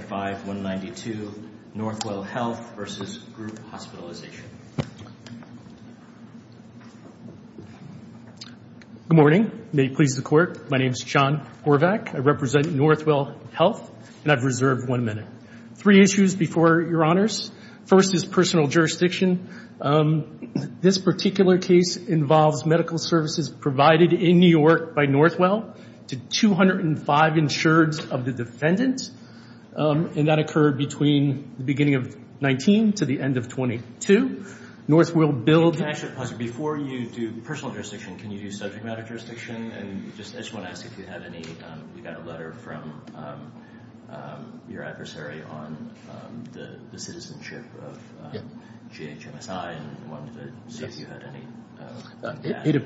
95-192 Northwell Health v. Group Hospitalization Good morning. May it please the Court, my name is John Horvath. I represent Northwell Health and I've reserved one minute. Three issues before your honors. First is personal jurisdiction. This particular case involves medical services provided in New York by Northwell to 205 insureds of the defendants. And that occurred between the beginning of 19 to the end of 22. Northwell built... Before you do personal jurisdiction, can you do subject matter jurisdiction? And I just want to ask if you have any... We got a letter from your adversary on the citizenship of GHMSI and wanted to see if you had any...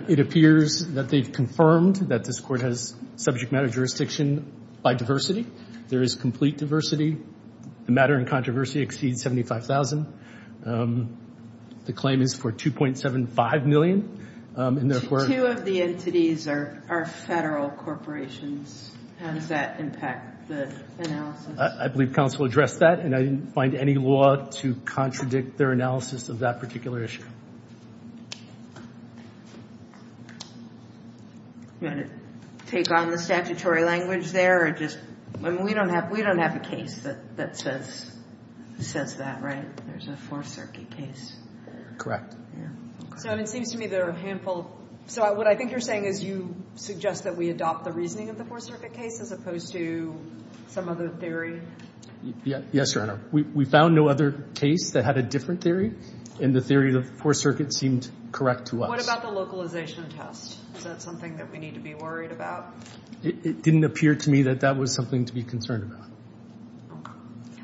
It appears that they've confirmed that this Court has subject matter jurisdiction by diversity. There is complete diversity. The matter in controversy exceeds $75,000. The claim is for $2.75 million. Two of the entities are federal corporations. How does that impact the analysis? I believe counsel addressed that and I didn't find any law to contradict their analysis of that particular issue. You want to take on the statutory language there or just... I mean, we don't have a case that says that, right? There's a Fourth Circuit case. Correct. So it seems to me there are a handful... So what I think you're saying is you suggest that we adopt the reasoning of the Fourth Circuit case as opposed to some other theory? Yes, Your Honor. We found no other case that had a different theory and the theory of the Fourth Circuit seemed correct to us. What about the localization test? Is that something that we need to be worried about? It didn't appear to me that that was something to be concerned about.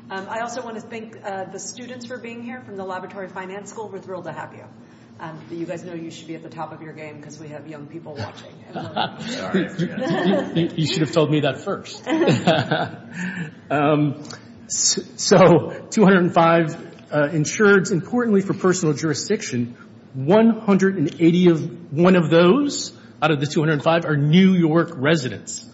I also want to thank the students for being here from the Laboratory Finance School. We're thrilled to have you. You guys know you should be at the top of your game because we have young people watching. You should have told me that first. So 205 insureds, importantly for personal jurisdiction, 180 of one of those out of the 205 are New York residents.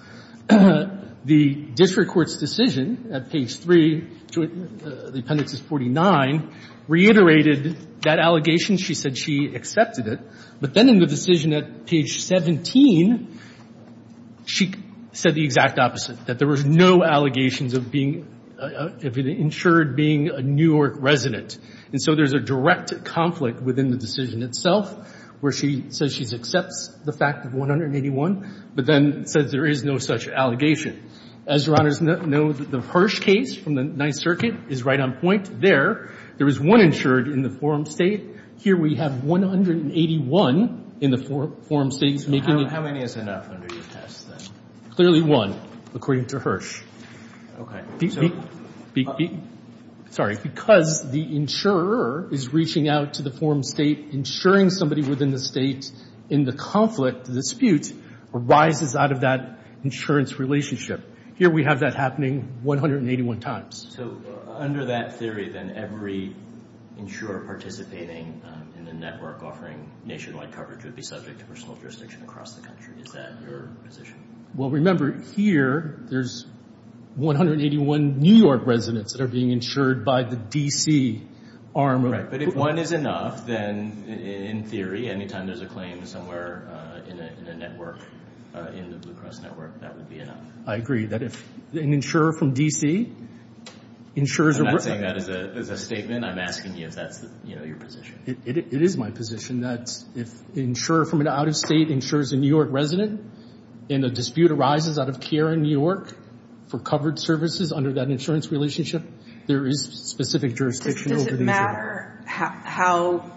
The district court's decision at page 3, the appendix is 49, reiterated that allegation. She said she accepted it. But then in the decision at page 17, she said the exact opposite, that there was no allegations of being insured being a New York resident. And so there's a direct conflict within the decision itself where she says she accepts the fact of 181, but then says there is no such allegation. As Your Honors know, the Hirsch case from the Ninth Circuit is right on point there. There was one insured in the Forum State. How many is enough under your test, then? Clearly one, according to Hirsch. Okay. Sorry. Because the insurer is reaching out to the Forum State, insuring somebody within the state in the conflict, the dispute, arises out of that insurance relationship. Here we have that happening 181 times. So under that theory, then, every insurer participating in the network offering nationwide coverage would be subject to personal jurisdiction across the country. Is that your position? Well, remember, here there's 181 New York residents that are being insured by the D.C. arm of it. Right. But if one is enough, then, in theory, any time there's a claim somewhere in a network, in the Blue Cross network, that would be enough. I agree. That if an insurer from D.C. insures a worker. I'm not saying that as a statement. I'm asking you if that's your position. It is my position. That if an insurer from an out-of-state insures a New York resident, and a dispute arises out of care in New York for covered services under that insurance relationship, there is specific jurisdiction. Does it matter how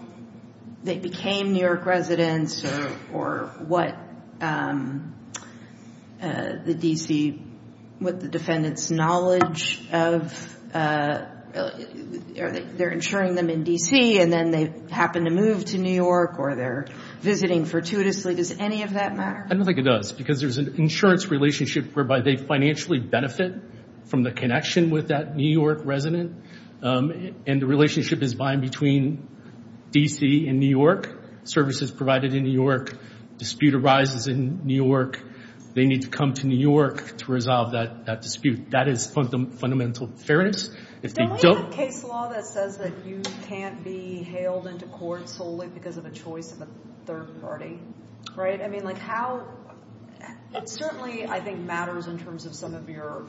they became New York residents or what the D.C. what the defendant's knowledge of? They're insuring them in D.C. and then they happen to move to New York or they're visiting fortuitously. Does any of that matter? I don't think it does, because there's an insurance relationship whereby they financially benefit from the connection with that New York resident. And the relationship is bind between D.C. and New York. Services provided in New York. Dispute arises in New York. They need to come to New York to resolve that dispute. That is fundamental fairness. Don't we have a case law that says that you can't be hailed into court solely because of a choice of a third party? Right? I mean, like how? It certainly, I think, matters in terms of some of your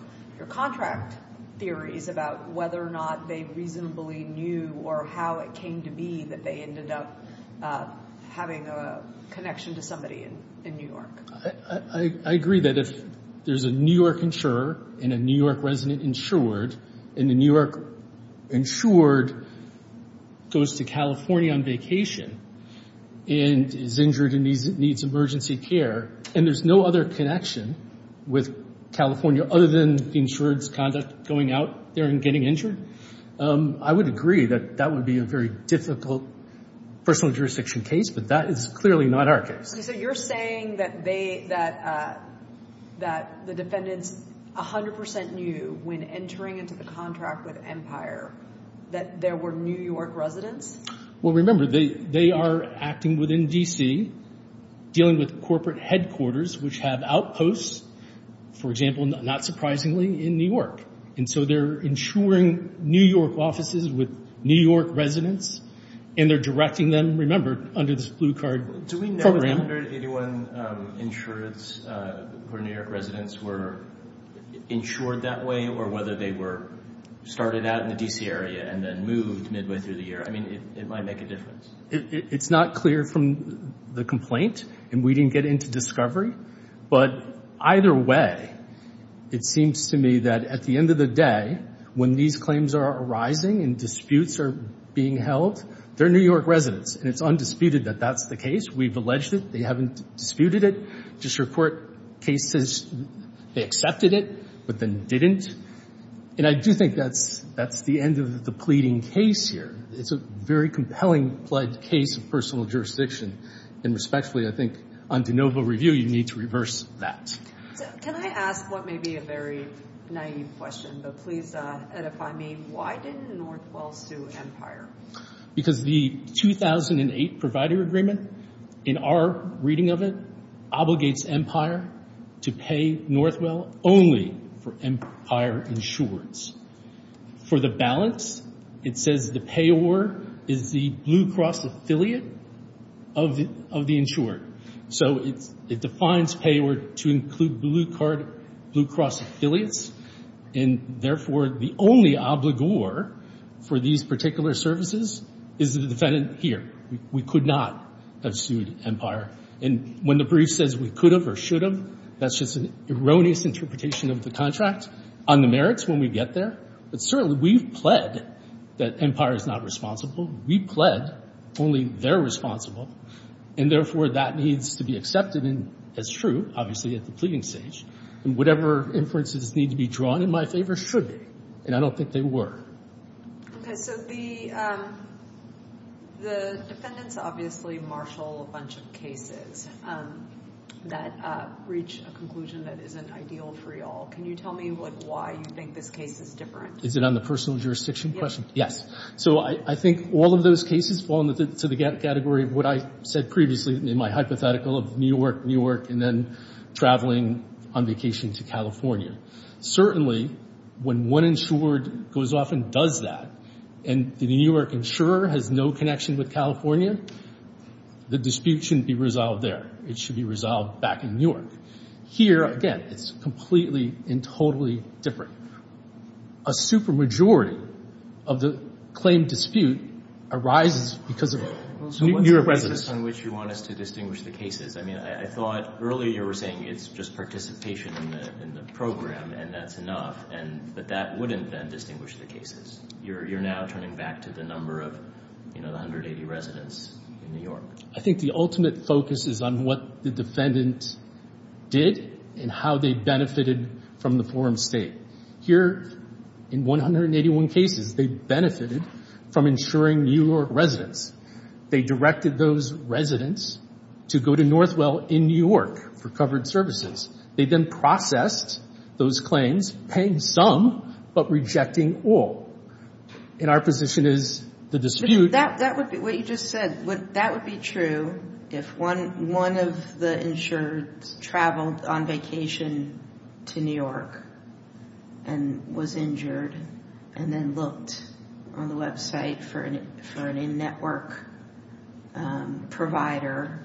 contract theories about whether or not they reasonably knew or how it came to be that they ended up having a connection to somebody in New York. I agree that if there's a New York insurer and a New York resident insured and the New York insured goes to California on vacation and is injured and needs emergency care and there's no other connection with California other than the insured's conduct going out there and getting injured, I would agree that that would be a very difficult personal jurisdiction case, but that is clearly not our case. So you're saying that the defendants 100% knew when entering into the contract with Empire that there were New York residents? Well, remember, they are acting within D.C., dealing with corporate headquarters which have outposts, for example, not surprisingly, in New York. And so they're insuring New York offices with New York residents and they're directing them, remember, under this blue card program. Do we know under 81 insurers where New York residents were insured that way or whether they were started out in the D.C. area and then moved midway through the year? I mean, it might make a difference. It's not clear from the complaint, and we didn't get into discovery, but either way it seems to me that at the end of the day when these claims are arising and disputes are being held, they're New York residents, and it's undisputed that that's the case. We've alleged it. They haven't disputed it. Just your court case says they accepted it but then didn't. And I do think that's the end of the pleading case here. It's a very compelling case of personal jurisdiction, and respectfully I think on de novo review you need to reverse that. Can I ask what may be a very naive question, but please edify me. Why did Northwell sue Empire? Because the 2008 Provider Agreement, in our reading of it, obligates Empire to pay Northwell only for Empire insureds. For the balance, it says the payor is the Blue Cross affiliate of the insured. So it defines payor to include Blue Cross affiliates, and therefore the only obligor for these particular services is the defendant here. We could not have sued Empire. And when the brief says we could have or should have, that's just an erroneous interpretation of the contract on the merits when we get there. But certainly we've pled that Empire is not responsible. We pled only they're responsible, and therefore that needs to be accepted as true, obviously, at the pleading stage. And whatever inferences need to be drawn in my favor should be, and I don't think they were. Okay, so the defendants obviously marshal a bunch of cases that reach a conclusion that isn't ideal for you all. Can you tell me why you think this case is different? Is it on the personal jurisdiction question? Yes. So I think all of those cases fall into the category of what I said previously in my hypothetical of New York, New York, and then traveling on vacation to California. Certainly when one insured goes off and does that and the New York insurer has no connection with California, the dispute shouldn't be resolved there. It should be resolved back in New York. Here, again, it's completely and totally different. A supermajority of the claimed dispute arises because of New York residents. What's the basis on which you want us to distinguish the cases? I mean, I thought earlier you were saying it's just participation in the program and that's enough, but that wouldn't then distinguish the cases. You're now turning back to the number of the 180 residents in New York. I think the ultimate focus is on what the defendants did and how they benefited from the forum state. Here, in 181 cases, they benefited from insuring New York residents. They directed those residents to go to Northwell in New York for covered services. They then processed those claims, paying some but rejecting all. And our position is the dispute— What you just said, that would be true if one of the insureds traveled on vacation to New York and was injured and then looked on the website for a network provider.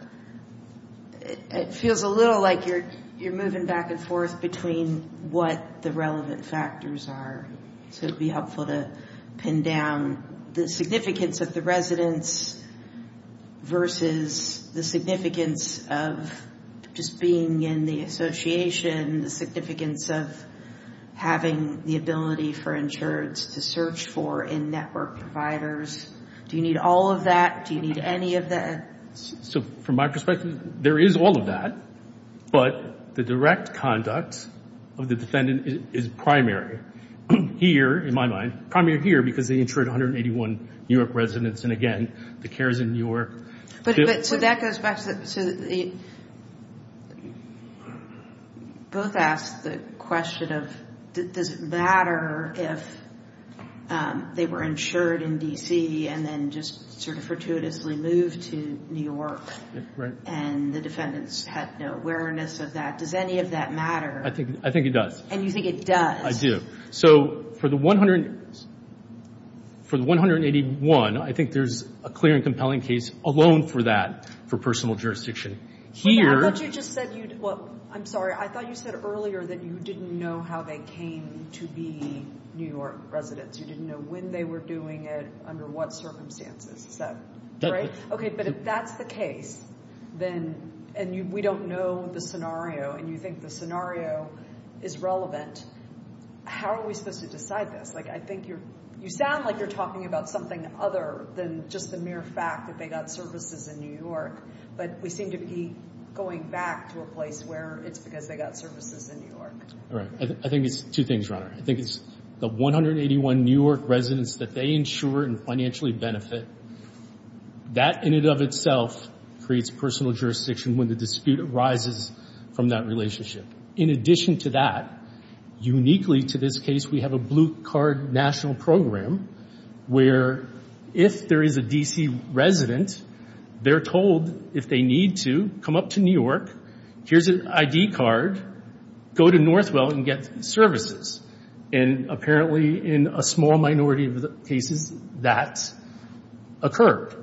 It feels a little like you're moving back and forth between what the relevant factors are. It would be helpful to pin down the significance of the residents versus the significance of just being in the association, the significance of having the ability for insureds to search for in-network providers. Do you need all of that? Do you need any of that? From my perspective, there is all of that, but the direct conduct of the defendant is primary here, in my mind, primary here because they insured 181 New York residents. And again, the cares in New York— But so that goes back to the— Both asked the question of does it matter if they were insured in D.C. and then just sort of fortuitously moved to New York and the defendants had no awareness of that. Does any of that matter? I think it does. And you think it does? I do. So for the 181, I think there's a clear and compelling case alone for that, for personal jurisdiction. I thought you just said—I'm sorry. I thought you said earlier that you didn't know how they came to be New York residents. You didn't know when they were doing it, under what circumstances. Is that right? Okay, but if that's the case, and we don't know the scenario, and you think the scenario is relevant, how are we supposed to decide this? I think you sound like you're talking about something other than just the mere fact that they got services in New York, but we seem to be going back to a place where it's because they got services in New York. I think it's two things, Ronna. I think it's the 181 New York residents that they insure and financially benefit. That in and of itself creates personal jurisdiction when the dispute arises from that relationship. In addition to that, uniquely to this case, we have a blue-card national program where if there is a D.C. resident, they're told, if they need to, come up to New York, here's an I.D. card, go to Northwell and get services. And apparently, in a small minority of the cases, that occurred.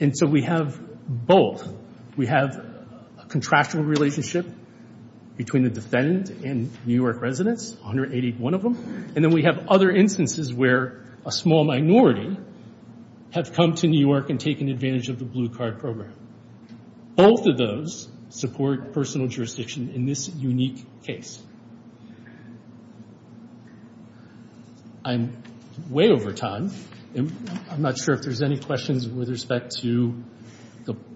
And so we have both. We have a contractual relationship between the defendant and New York residents, 181 of them, and then we have other instances where a small minority have come to New York and taken advantage of the blue-card program. Both of those support personal jurisdiction in this unique case. I'm way over time, and I'm not sure if there's any questions with respect to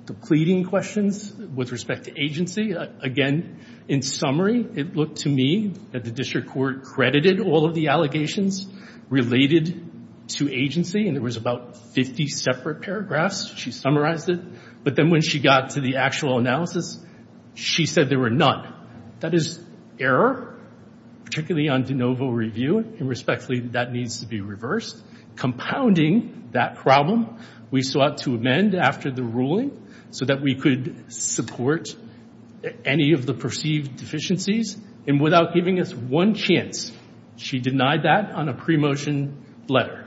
the pleading questions, with respect to agency. Again, in summary, it looked to me that the district court credited all of the allegations related to agency, and there was about 50 separate paragraphs. She summarized it. But then when she got to the actual analysis, she said there were none. That is error, particularly on de novo review, and respectfully, that needs to be reversed. Compounding that problem, we sought to amend after the ruling so that we could support any of the perceived deficiencies. And without giving us one chance, she denied that on a pre-motion letter.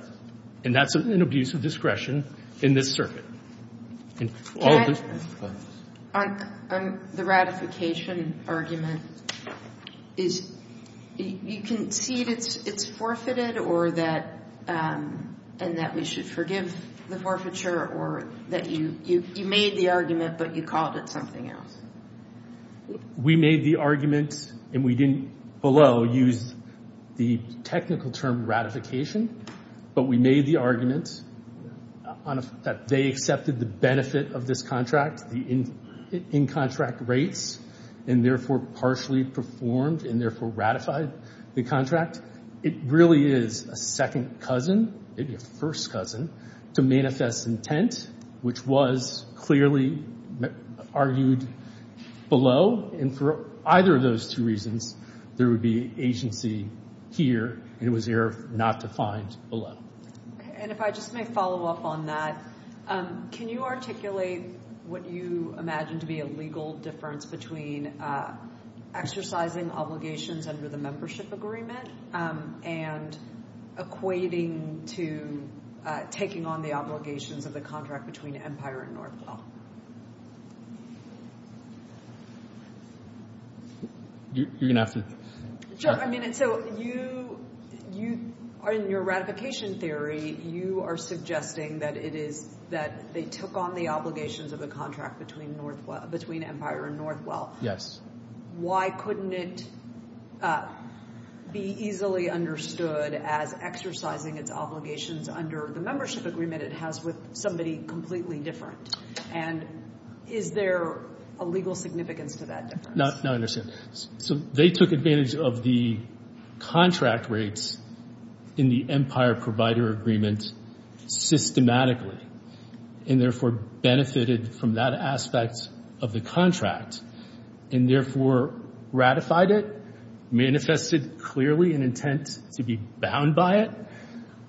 And that's an abuse of discretion in this circuit. On the ratification argument, you concede it's forfeited and that we should forgive the forfeiture or that you made the argument but you called it something else? We made the argument, and we didn't below use the technical term ratification. But we made the argument that they accepted the benefit of this contract, the in-contract rates, and therefore partially performed and therefore ratified the contract. It really is a second cousin, maybe a first cousin, to manifest intent, which was clearly argued below. And for either of those two reasons, there would be agency here, and it was error not defined below. And if I just may follow up on that, can you articulate what you imagine to be a legal difference between exercising obligations under the membership agreement and equating to taking on the obligations of the contract between Empire and Northwell? You're going to have to check. Sure. I mean, so in your ratification theory, you are suggesting that they took on the obligations of the contract between Empire and Northwell. Yes. Why couldn't it be easily understood as exercising its obligations under the membership agreement it has with somebody completely different? And is there a legal significance to that difference? No, I understand. So they took advantage of the contract rates in the Empire provider agreement systematically and therefore benefited from that aspect of the contract and therefore ratified it, manifested clearly an intent to be bound by it.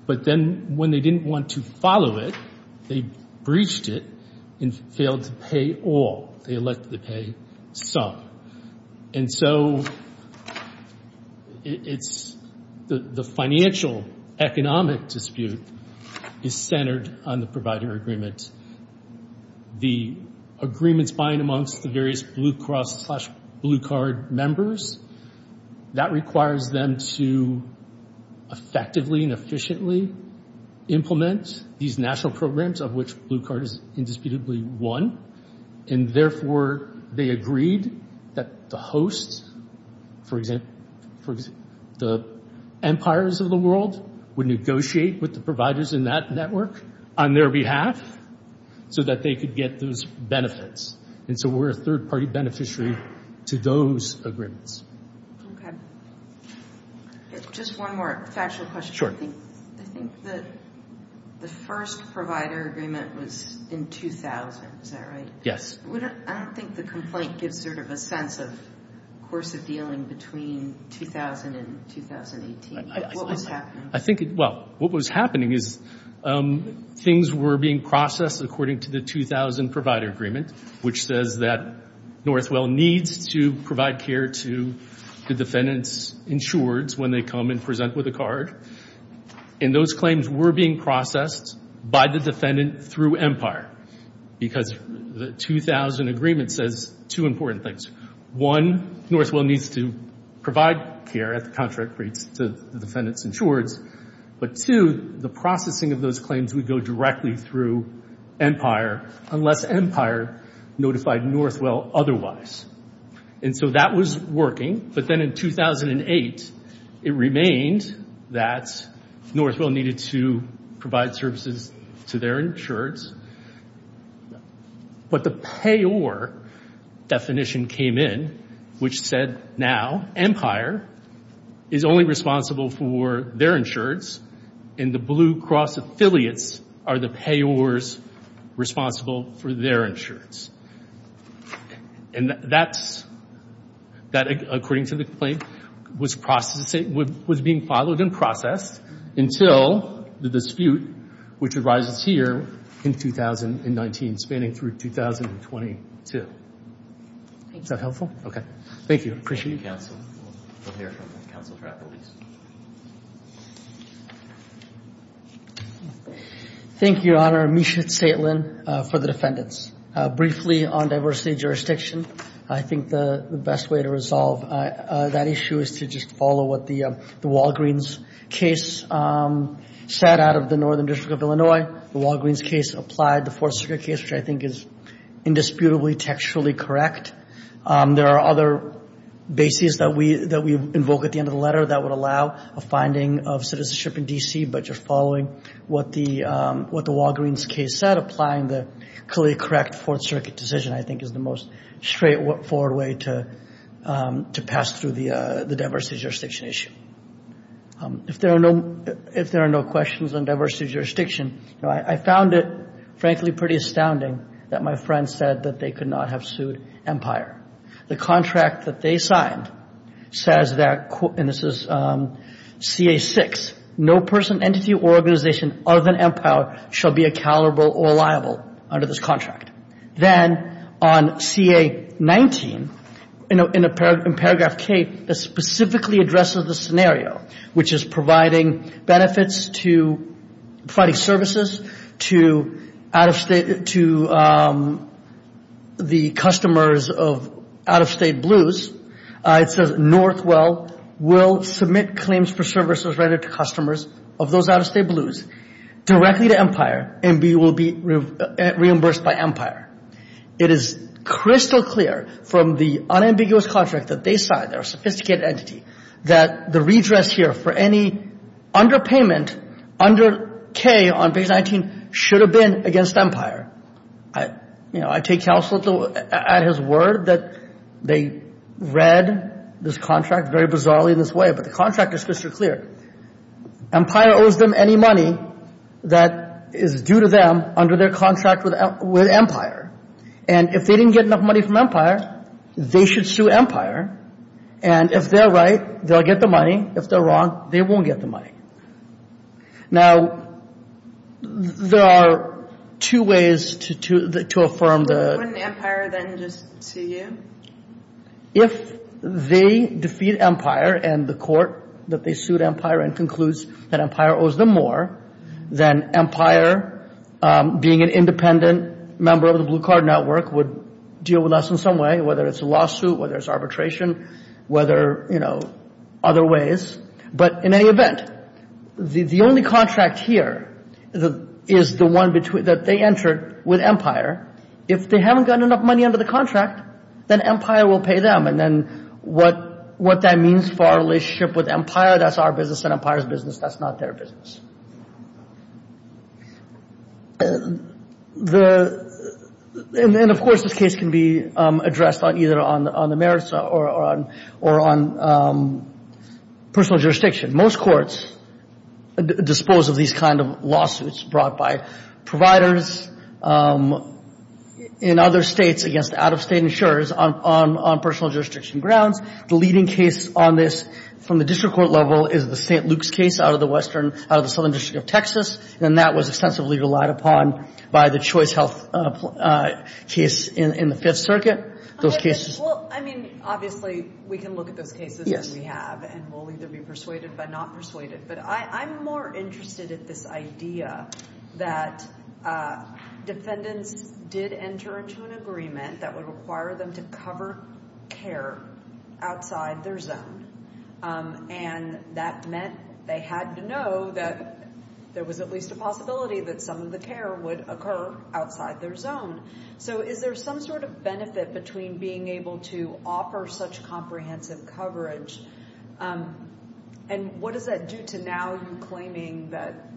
But then when they didn't want to follow it, they breached it and failed to pay all. They elected to pay some. And so it's the financial economic dispute is centered on the provider agreement. The agreements bind amongst the various Blue Cross slash Blue Card members. That requires them to effectively and efficiently implement these national programs of which Blue Card is indisputably one. And therefore, they agreed that the host, for example, the empires of the world would negotiate with the providers in that network on their behalf so that they could get those benefits. And so we're a third-party beneficiary to those agreements. Okay. Just one more factual question. I think that the first provider agreement was in 2000. Is that right? Yes. I don't think the complaint gives sort of a sense of course of dealing between 2000 and 2018. What was happening? Well, what was happening is things were being processed according to the 2000 provider agreement, which says that Northwell needs to provide care to the defendant's insureds when they come and present with a card. And those claims were being processed by the defendant through Empire because the 2000 agreement says two important things. One, Northwell needs to provide care at the contract rates to the defendant's insureds. But two, the processing of those claims would go directly through Empire unless Empire notified Northwell otherwise. And so that was working. But then in 2008 it remained that Northwell needed to provide services to their insureds. But the payor definition came in, which said now Empire is only responsible for their insureds and the Blue Cross affiliates are the payors responsible for their insureds. And that, according to the complaint, was being followed and processed until the dispute, which arises here in 2019, spanning through 2022. Is that helpful? Okay. Thank you. I appreciate it. Thank you, counsel. We'll hear from counsel for appellees. Thank you, Your Honor. Misha Zaitlin for the defendants. Briefly on diversity of jurisdiction, I think the best way to resolve that issue is to just follow what the Walgreens case said out of the Northern District of Illinois. The Walgreens case applied the Fourth Circuit case, which I think is indisputably textually correct. There are other bases that we invoke at the end of the letter that would allow a finding of citizenship in D.C., but just following what the Walgreens case said, applying the clearly correct Fourth Circuit decision, I think, is the most straightforward way to pass through the diversity of jurisdiction issue. If there are no questions on diversity of jurisdiction, I found it, frankly, pretty astounding that my friends said that they could not have sued Empire. The contract that they signed says that, and this is CA-6, no person, entity, or organization other than Empire shall be accountable or liable under this contract. Then on CA-19, in paragraph K, it specifically addresses the scenario, which is providing services to the customers of out-of-state blues. It says Northwell will submit claims for services rendered to customers of those out-of-state blues directly to Empire and will be reimbursed by Empire. It is crystal clear from the unambiguous contract that they signed, they're a sophisticated entity, that the redress here for any underpayment under K on page 19 should have been against Empire. You know, I take counsel at his word that they read this contract very bizarrely in this way, but the contract is crystal clear. Empire owes them any money that is due to them under their contract with Empire, and if they didn't get enough money from Empire, they should sue Empire, and if they're right, they'll get the money. If they're wrong, they won't get the money. Now, there are two ways to affirm the – Wouldn't Empire then just sue you? If they defeat Empire and the court that they sued Empire and concludes that Empire owes them more, then Empire, being an independent member of the blue card network, would deal with us in some way, whether it's a lawsuit, whether it's arbitration, whether, you know, other ways. But in any event, the only contract here is the one that they entered with Empire. If they haven't gotten enough money under the contract, then Empire will pay them, and then what that means for our relationship with Empire, that's our business, and Empire's business, that's not their business. And then, of course, this case can be addressed either on the merits or on personal jurisdiction. Most courts dispose of these kind of lawsuits brought by providers in other states against out-of-state insurers on personal jurisdiction grounds. The leading case on this from the district court level is the St. Luke's case out of the southern district of Texas, and that was ostensibly relied upon by the Choice Health case in the Fifth Circuit. Well, I mean, obviously, we can look at those cases that we have, and we'll either be persuaded or not persuaded. But I'm more interested in this idea that defendants did enter into an agreement that would require them to cover care outside their zone, and that meant they had to know that there was at least a possibility that some of the care would occur outside their zone. So is there some sort of benefit between being able to offer such comprehensive coverage, and what does that do to now you claiming that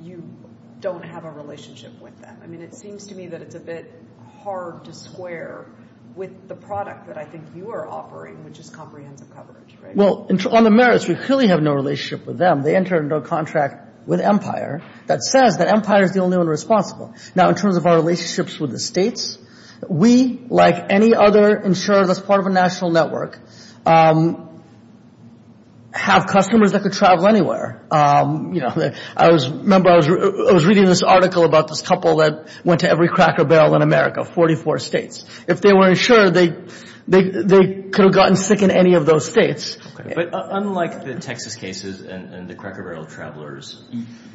you don't have a relationship with them? I mean, it seems to me that it's a bit hard to square with the product that I think you are offering, which is comprehensive coverage, right? Well, on the merits, we clearly have no relationship with them. They entered into a contract with Empire that says that Empire is the only one responsible. Now, in terms of our relationships with the states, we, like any other insurer that's part of a national network, have customers that could travel anywhere. I remember I was reading this article about this couple that went to every Cracker Barrel in America, 44 states. If they weren't insured, they could have gotten sick in any of those states. But unlike the Texas cases and the Cracker Barrel travelers,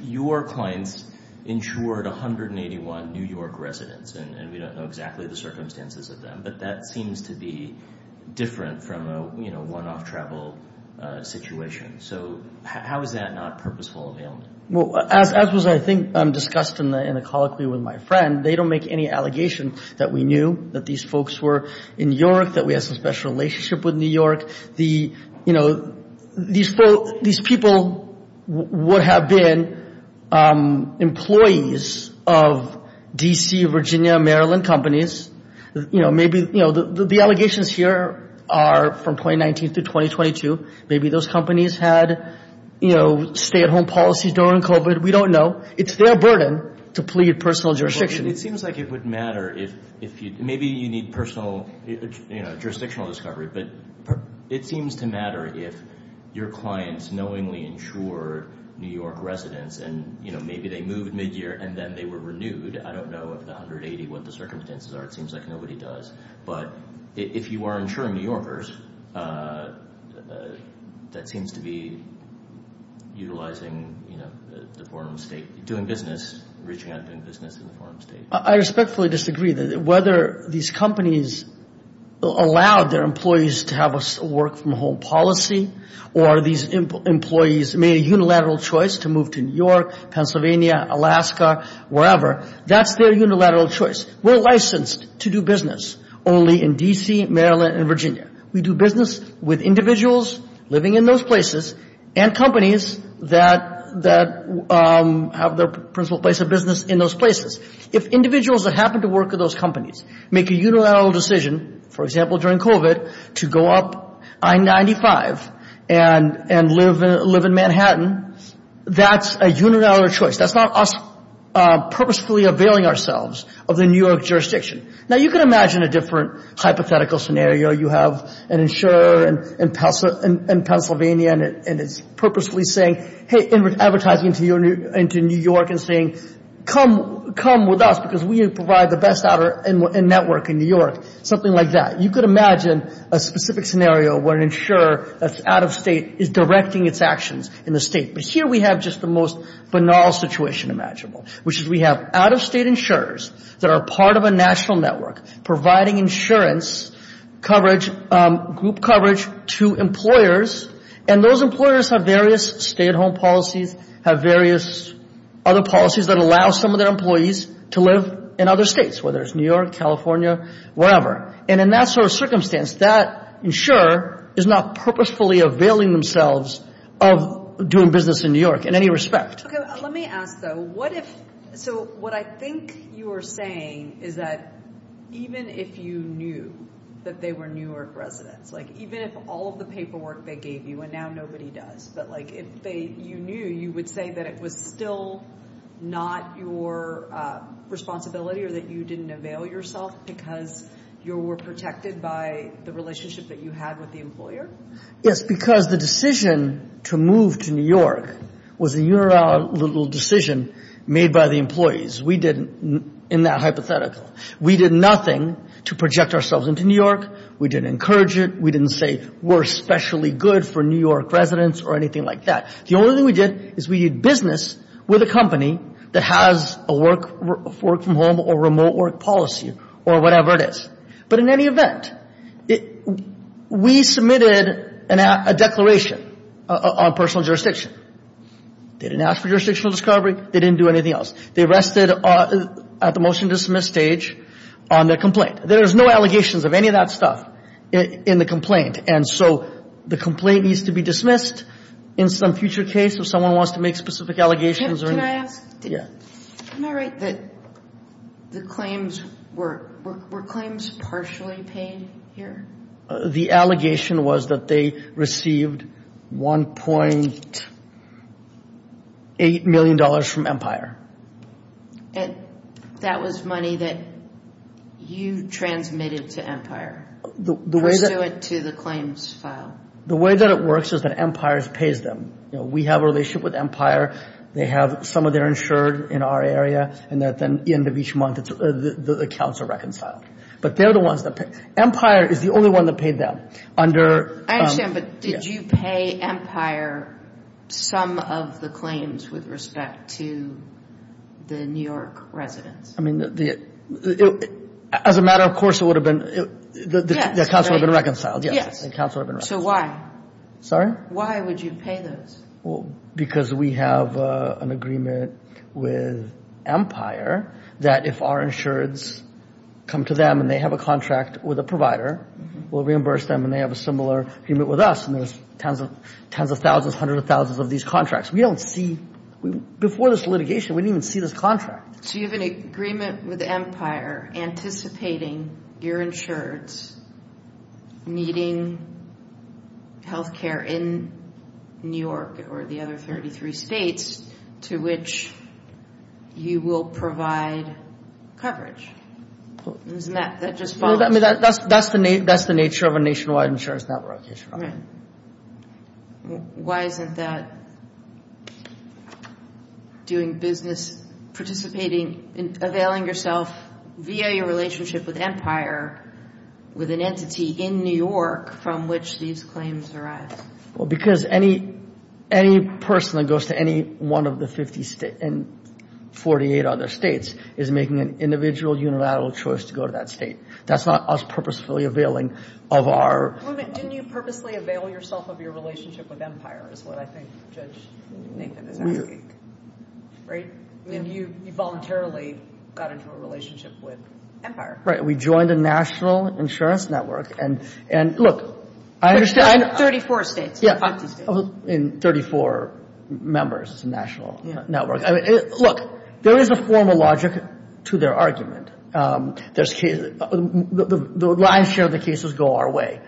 your clients insured 181 New York residents, and we don't know exactly the circumstances of them, but that seems to be different from a one-off travel situation. So how is that not purposeful availment? Well, as was, I think, discussed in the colloquy with my friend, they don't make any allegation that we knew that these folks were in New York, that we had some special relationship with New York. These people would have been employees of D.C., Virginia, Maryland companies. The allegations here are from 2019 to 2022. Maybe those companies had stay-at-home policies during COVID. We don't know. It's their burden to plead personal jurisdiction. It seems like it would matter if – maybe you need personal jurisdictional discovery, but it seems to matter if your clients knowingly insured New York residents, and maybe they moved midyear, and then they were renewed. I don't know if the 180, what the circumstances are. It seems like nobody does. But if you are insuring New Yorkers, that seems to be utilizing the form of state, doing business, reaching out and doing business in the form of state. I respectfully disagree that whether these companies allowed their employees to have a work-from-home policy or these employees made a unilateral choice to move to New York, Pennsylvania, Alaska, wherever, that's their unilateral choice. We're licensed to do business only in D.C., Maryland, and Virginia. We do business with individuals living in those places and companies that have their principal place of business in those places. If individuals that happen to work at those companies make a unilateral decision, for example, during COVID, to go up I-95 and live in Manhattan, that's a unilateral choice. That's not us purposefully availing ourselves of the New York jurisdiction. Now, you can imagine a different hypothetical scenario. You have an insurer in Pennsylvania, and it's purposefully saying, hey, advertising to New York and saying, come with us because we provide the best network in New York, something like that. You could imagine a specific scenario where an insurer that's out of state is directing its actions in the state. But here we have just the most banal situation imaginable, which is we have out-of-state insurers that are part of a national network providing insurance coverage, group coverage to employers, and those employers have various stay-at-home policies, have various other policies that allow some of their employees to live in other states, whether it's New York, California, wherever. And in that sort of circumstance, that insurer is not purposefully availing themselves of doing business in New York in any respect. Okay. Let me ask, though. So what I think you are saying is that even if you knew that they were New York residents, like even if all of the paperwork they gave you, and now nobody does, but like if you knew, you would say that it was still not your responsibility or that you didn't avail yourself because you were protected by the relationship that you had with the employer? Yes, because the decision to move to New York was a unilateral decision made by the employees. We didn't, in that hypothetical, we did nothing to project ourselves into New York. We didn't encourage it. We didn't say we're specially good for New York residents or anything like that. The only thing we did is we did business with a company that has a work-from-home or remote work policy or whatever it is. But in any event, we submitted a declaration on personal jurisdiction. They didn't ask for jurisdictional discovery. They didn't do anything else. They rested at the motion-to-dismiss stage on their complaint. There was no allegations of any of that stuff in the complaint, and so the complaint needs to be dismissed in some future case if someone wants to make specific allegations. Can I ask? Yeah. Am I right that the claims were claims partially paid here? The allegation was that they received $1.8 million from Empire. And that was money that you transmitted to Empire pursuant to the claims file? The way that it works is that Empire pays them. We have a relationship with Empire. They have some of their insured in our area, and at the end of each month, the accounts are reconciled. But they're the ones that pay. Empire is the only one that paid them. I understand, but did you pay Empire some of the claims with respect to the New York residents? I mean, as a matter of course, it would have been the accounts would have been reconciled. Yes. So why? Sorry? Why would you pay those? Because we have an agreement with Empire that if our insureds come to them and they have a contract with a provider, we'll reimburse them and they have a similar agreement with us, and there's tens of thousands, hundreds of thousands of these contracts. We don't see – before this litigation, we didn't even see this contract. So you have an agreement with Empire anticipating your insureds needing health care in New York or the other 33 states to which you will provide coverage. Isn't that just false? That's the nature of a nationwide insurance network. Right. Why isn't that doing business, participating, availing yourself via your relationship with Empire with an entity in New York from which these claims arrive? Well, because any person that goes to any one of the 58 other states is making an individual, unilateral choice to go to that state. That's not us purposefully availing of our – Wait a minute. Didn't you purposely avail yourself of your relationship with Empire is what I think Judge Nathan is asking. Right? I mean, you voluntarily got into a relationship with Empire. Right. We joined a national insurance network. And, look, I understand – Like 34 states. Yeah. In 34 members of the national network. Look, there is a formal logic to their argument. The lion's share of the cases go our way.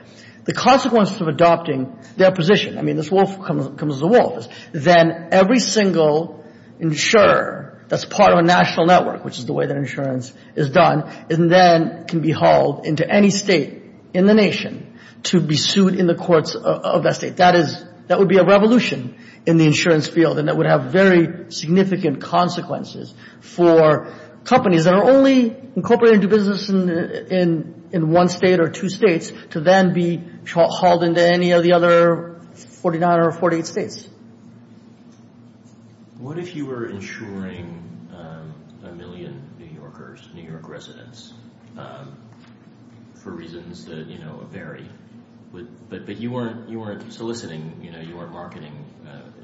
The consequences of adopting their position – I mean, this wolf comes as a wolf. Then every single insurer that's part of a national network, which is the way that insurance is done, then can be hauled into any state in the nation to be sued in the courts of that state. That would be a revolution in the insurance field, and that would have very significant consequences for companies that are only incorporated into business in one state or two states to then be hauled into any of the other 49 or 48 states. What if you were insuring a million New Yorkers, New York residents, for reasons that, you know, vary, but you weren't soliciting, you know, you weren't marketing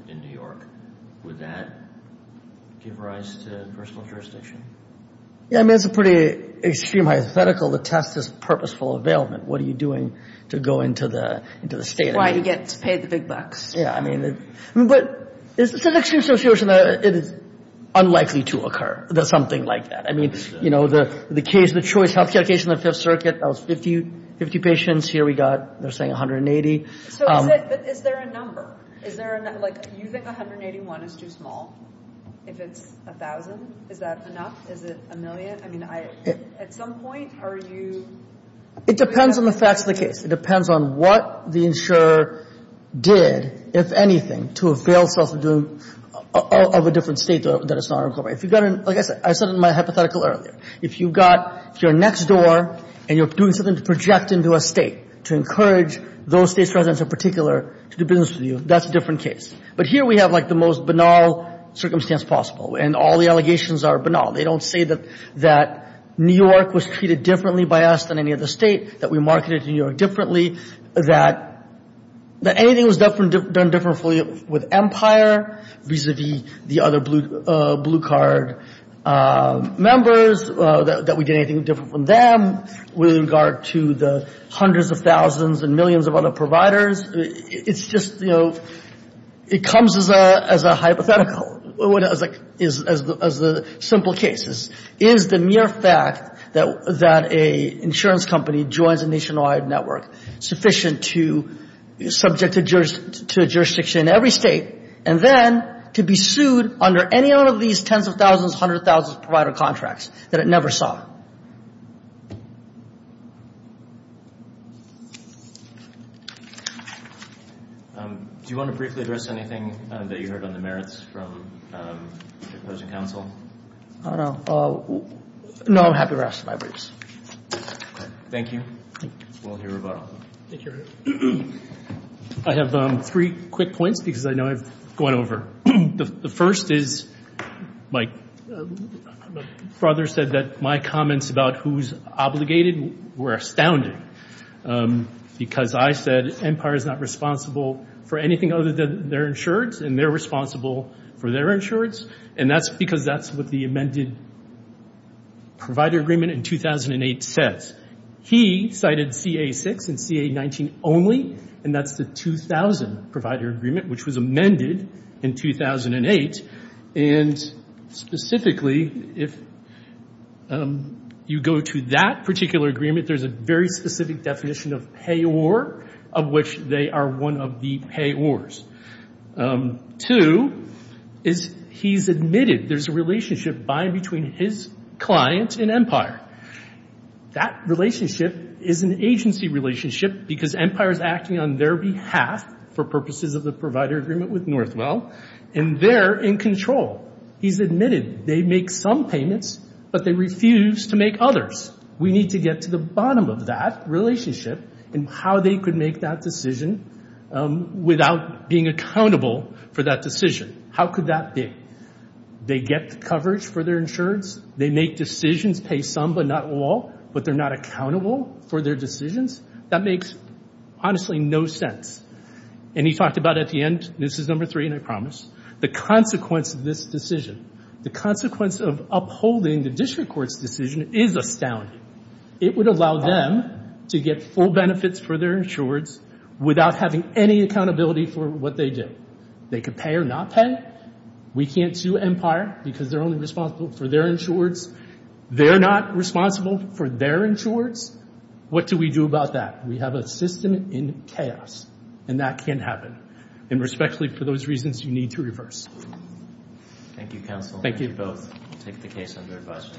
in New York? Would that give rise to personal jurisdiction? Yeah, I mean, it's a pretty extreme hypothetical to test this purposeful availment. What are you doing to go into the state of New York? That's why you get to pay the big bucks. Yeah, I mean, but it's an extreme situation that is unlikely to occur, something like that. I mean, you know, the case, the choice healthcare case in the Fifth Circuit, that was 50 patients. Here we got, they're saying, 180. So is there a number? Is there a – like, you think 181 is too small? If it's 1,000, is that enough? Is it a million? I mean, at some point, are you – It depends on the facts of the case. It depends on what the insurer did, if anything, to avail itself of a different state that is not incorporated. If you've got an – like I said, I said in my hypothetical earlier, if you've got – if you're next door and you're doing something to project into a state to encourage those states' residents in particular to do business with you, that's a different case. But here we have, like, the most banal circumstance possible, and all the allegations are banal. They don't say that New York was treated differently by us than any other state, that we marketed New York differently, that anything was done differently with Empire vis-à-vis the other Blue Card members, that we did anything different from them with regard to the hundreds of thousands and millions of other providers. It's just, you know, it comes as a hypothetical, as a simple case. Is the mere fact that an insurance company joins a nationwide network sufficient to – subject to a jurisdiction in every state, and then to be sued under any one of these tens of thousands, hundreds of thousands of provider contracts that it never saw? Do you want to briefly address anything that you heard on the merits from opposing counsel? I don't know. No, happy rest of my weeks. Thank you. We'll hear about all that. Thank you. I have three quick points because I know I've gone over. The first is my brother said that my comments about who's obligated were astounding because I said Empire is not responsible for anything other than their insurance, and they're responsible for their insurance. And that's because that's what the amended provider agreement in 2008 says. He cited CA-6 and CA-19 only, and that's the 2000 provider agreement, which was amended in 2008. And specifically, if you go to that particular agreement, there's a very specific definition of payor, of which they are one of the payors. Two is he's admitted there's a relationship by and between his client and Empire. That relationship is an agency relationship because Empire is acting on their behalf for purposes of the provider agreement with Northwell, and they're in control. He's admitted they make some payments, but they refuse to make others. We need to get to the bottom of that relationship and how they could make that decision without being accountable for that decision. How could that be? They get coverage for their insurance. They make decisions, pay some but not all, but they're not accountable for their decisions. That makes honestly no sense. And he talked about at the end, this is number three and I promise, the consequence of this decision. The consequence of upholding the district court's decision is astounding. It would allow them to get full benefits for their insurers without having any accountability for what they do. They could pay or not pay. We can't sue Empire because they're only responsible for their insurers. They're not responsible for their insurers. What do we do about that? We have a system in chaos, and that can't happen. And respectfully, for those reasons, you need to reverse. Thank you, counsel. Thank you both. We'll take the case under advice.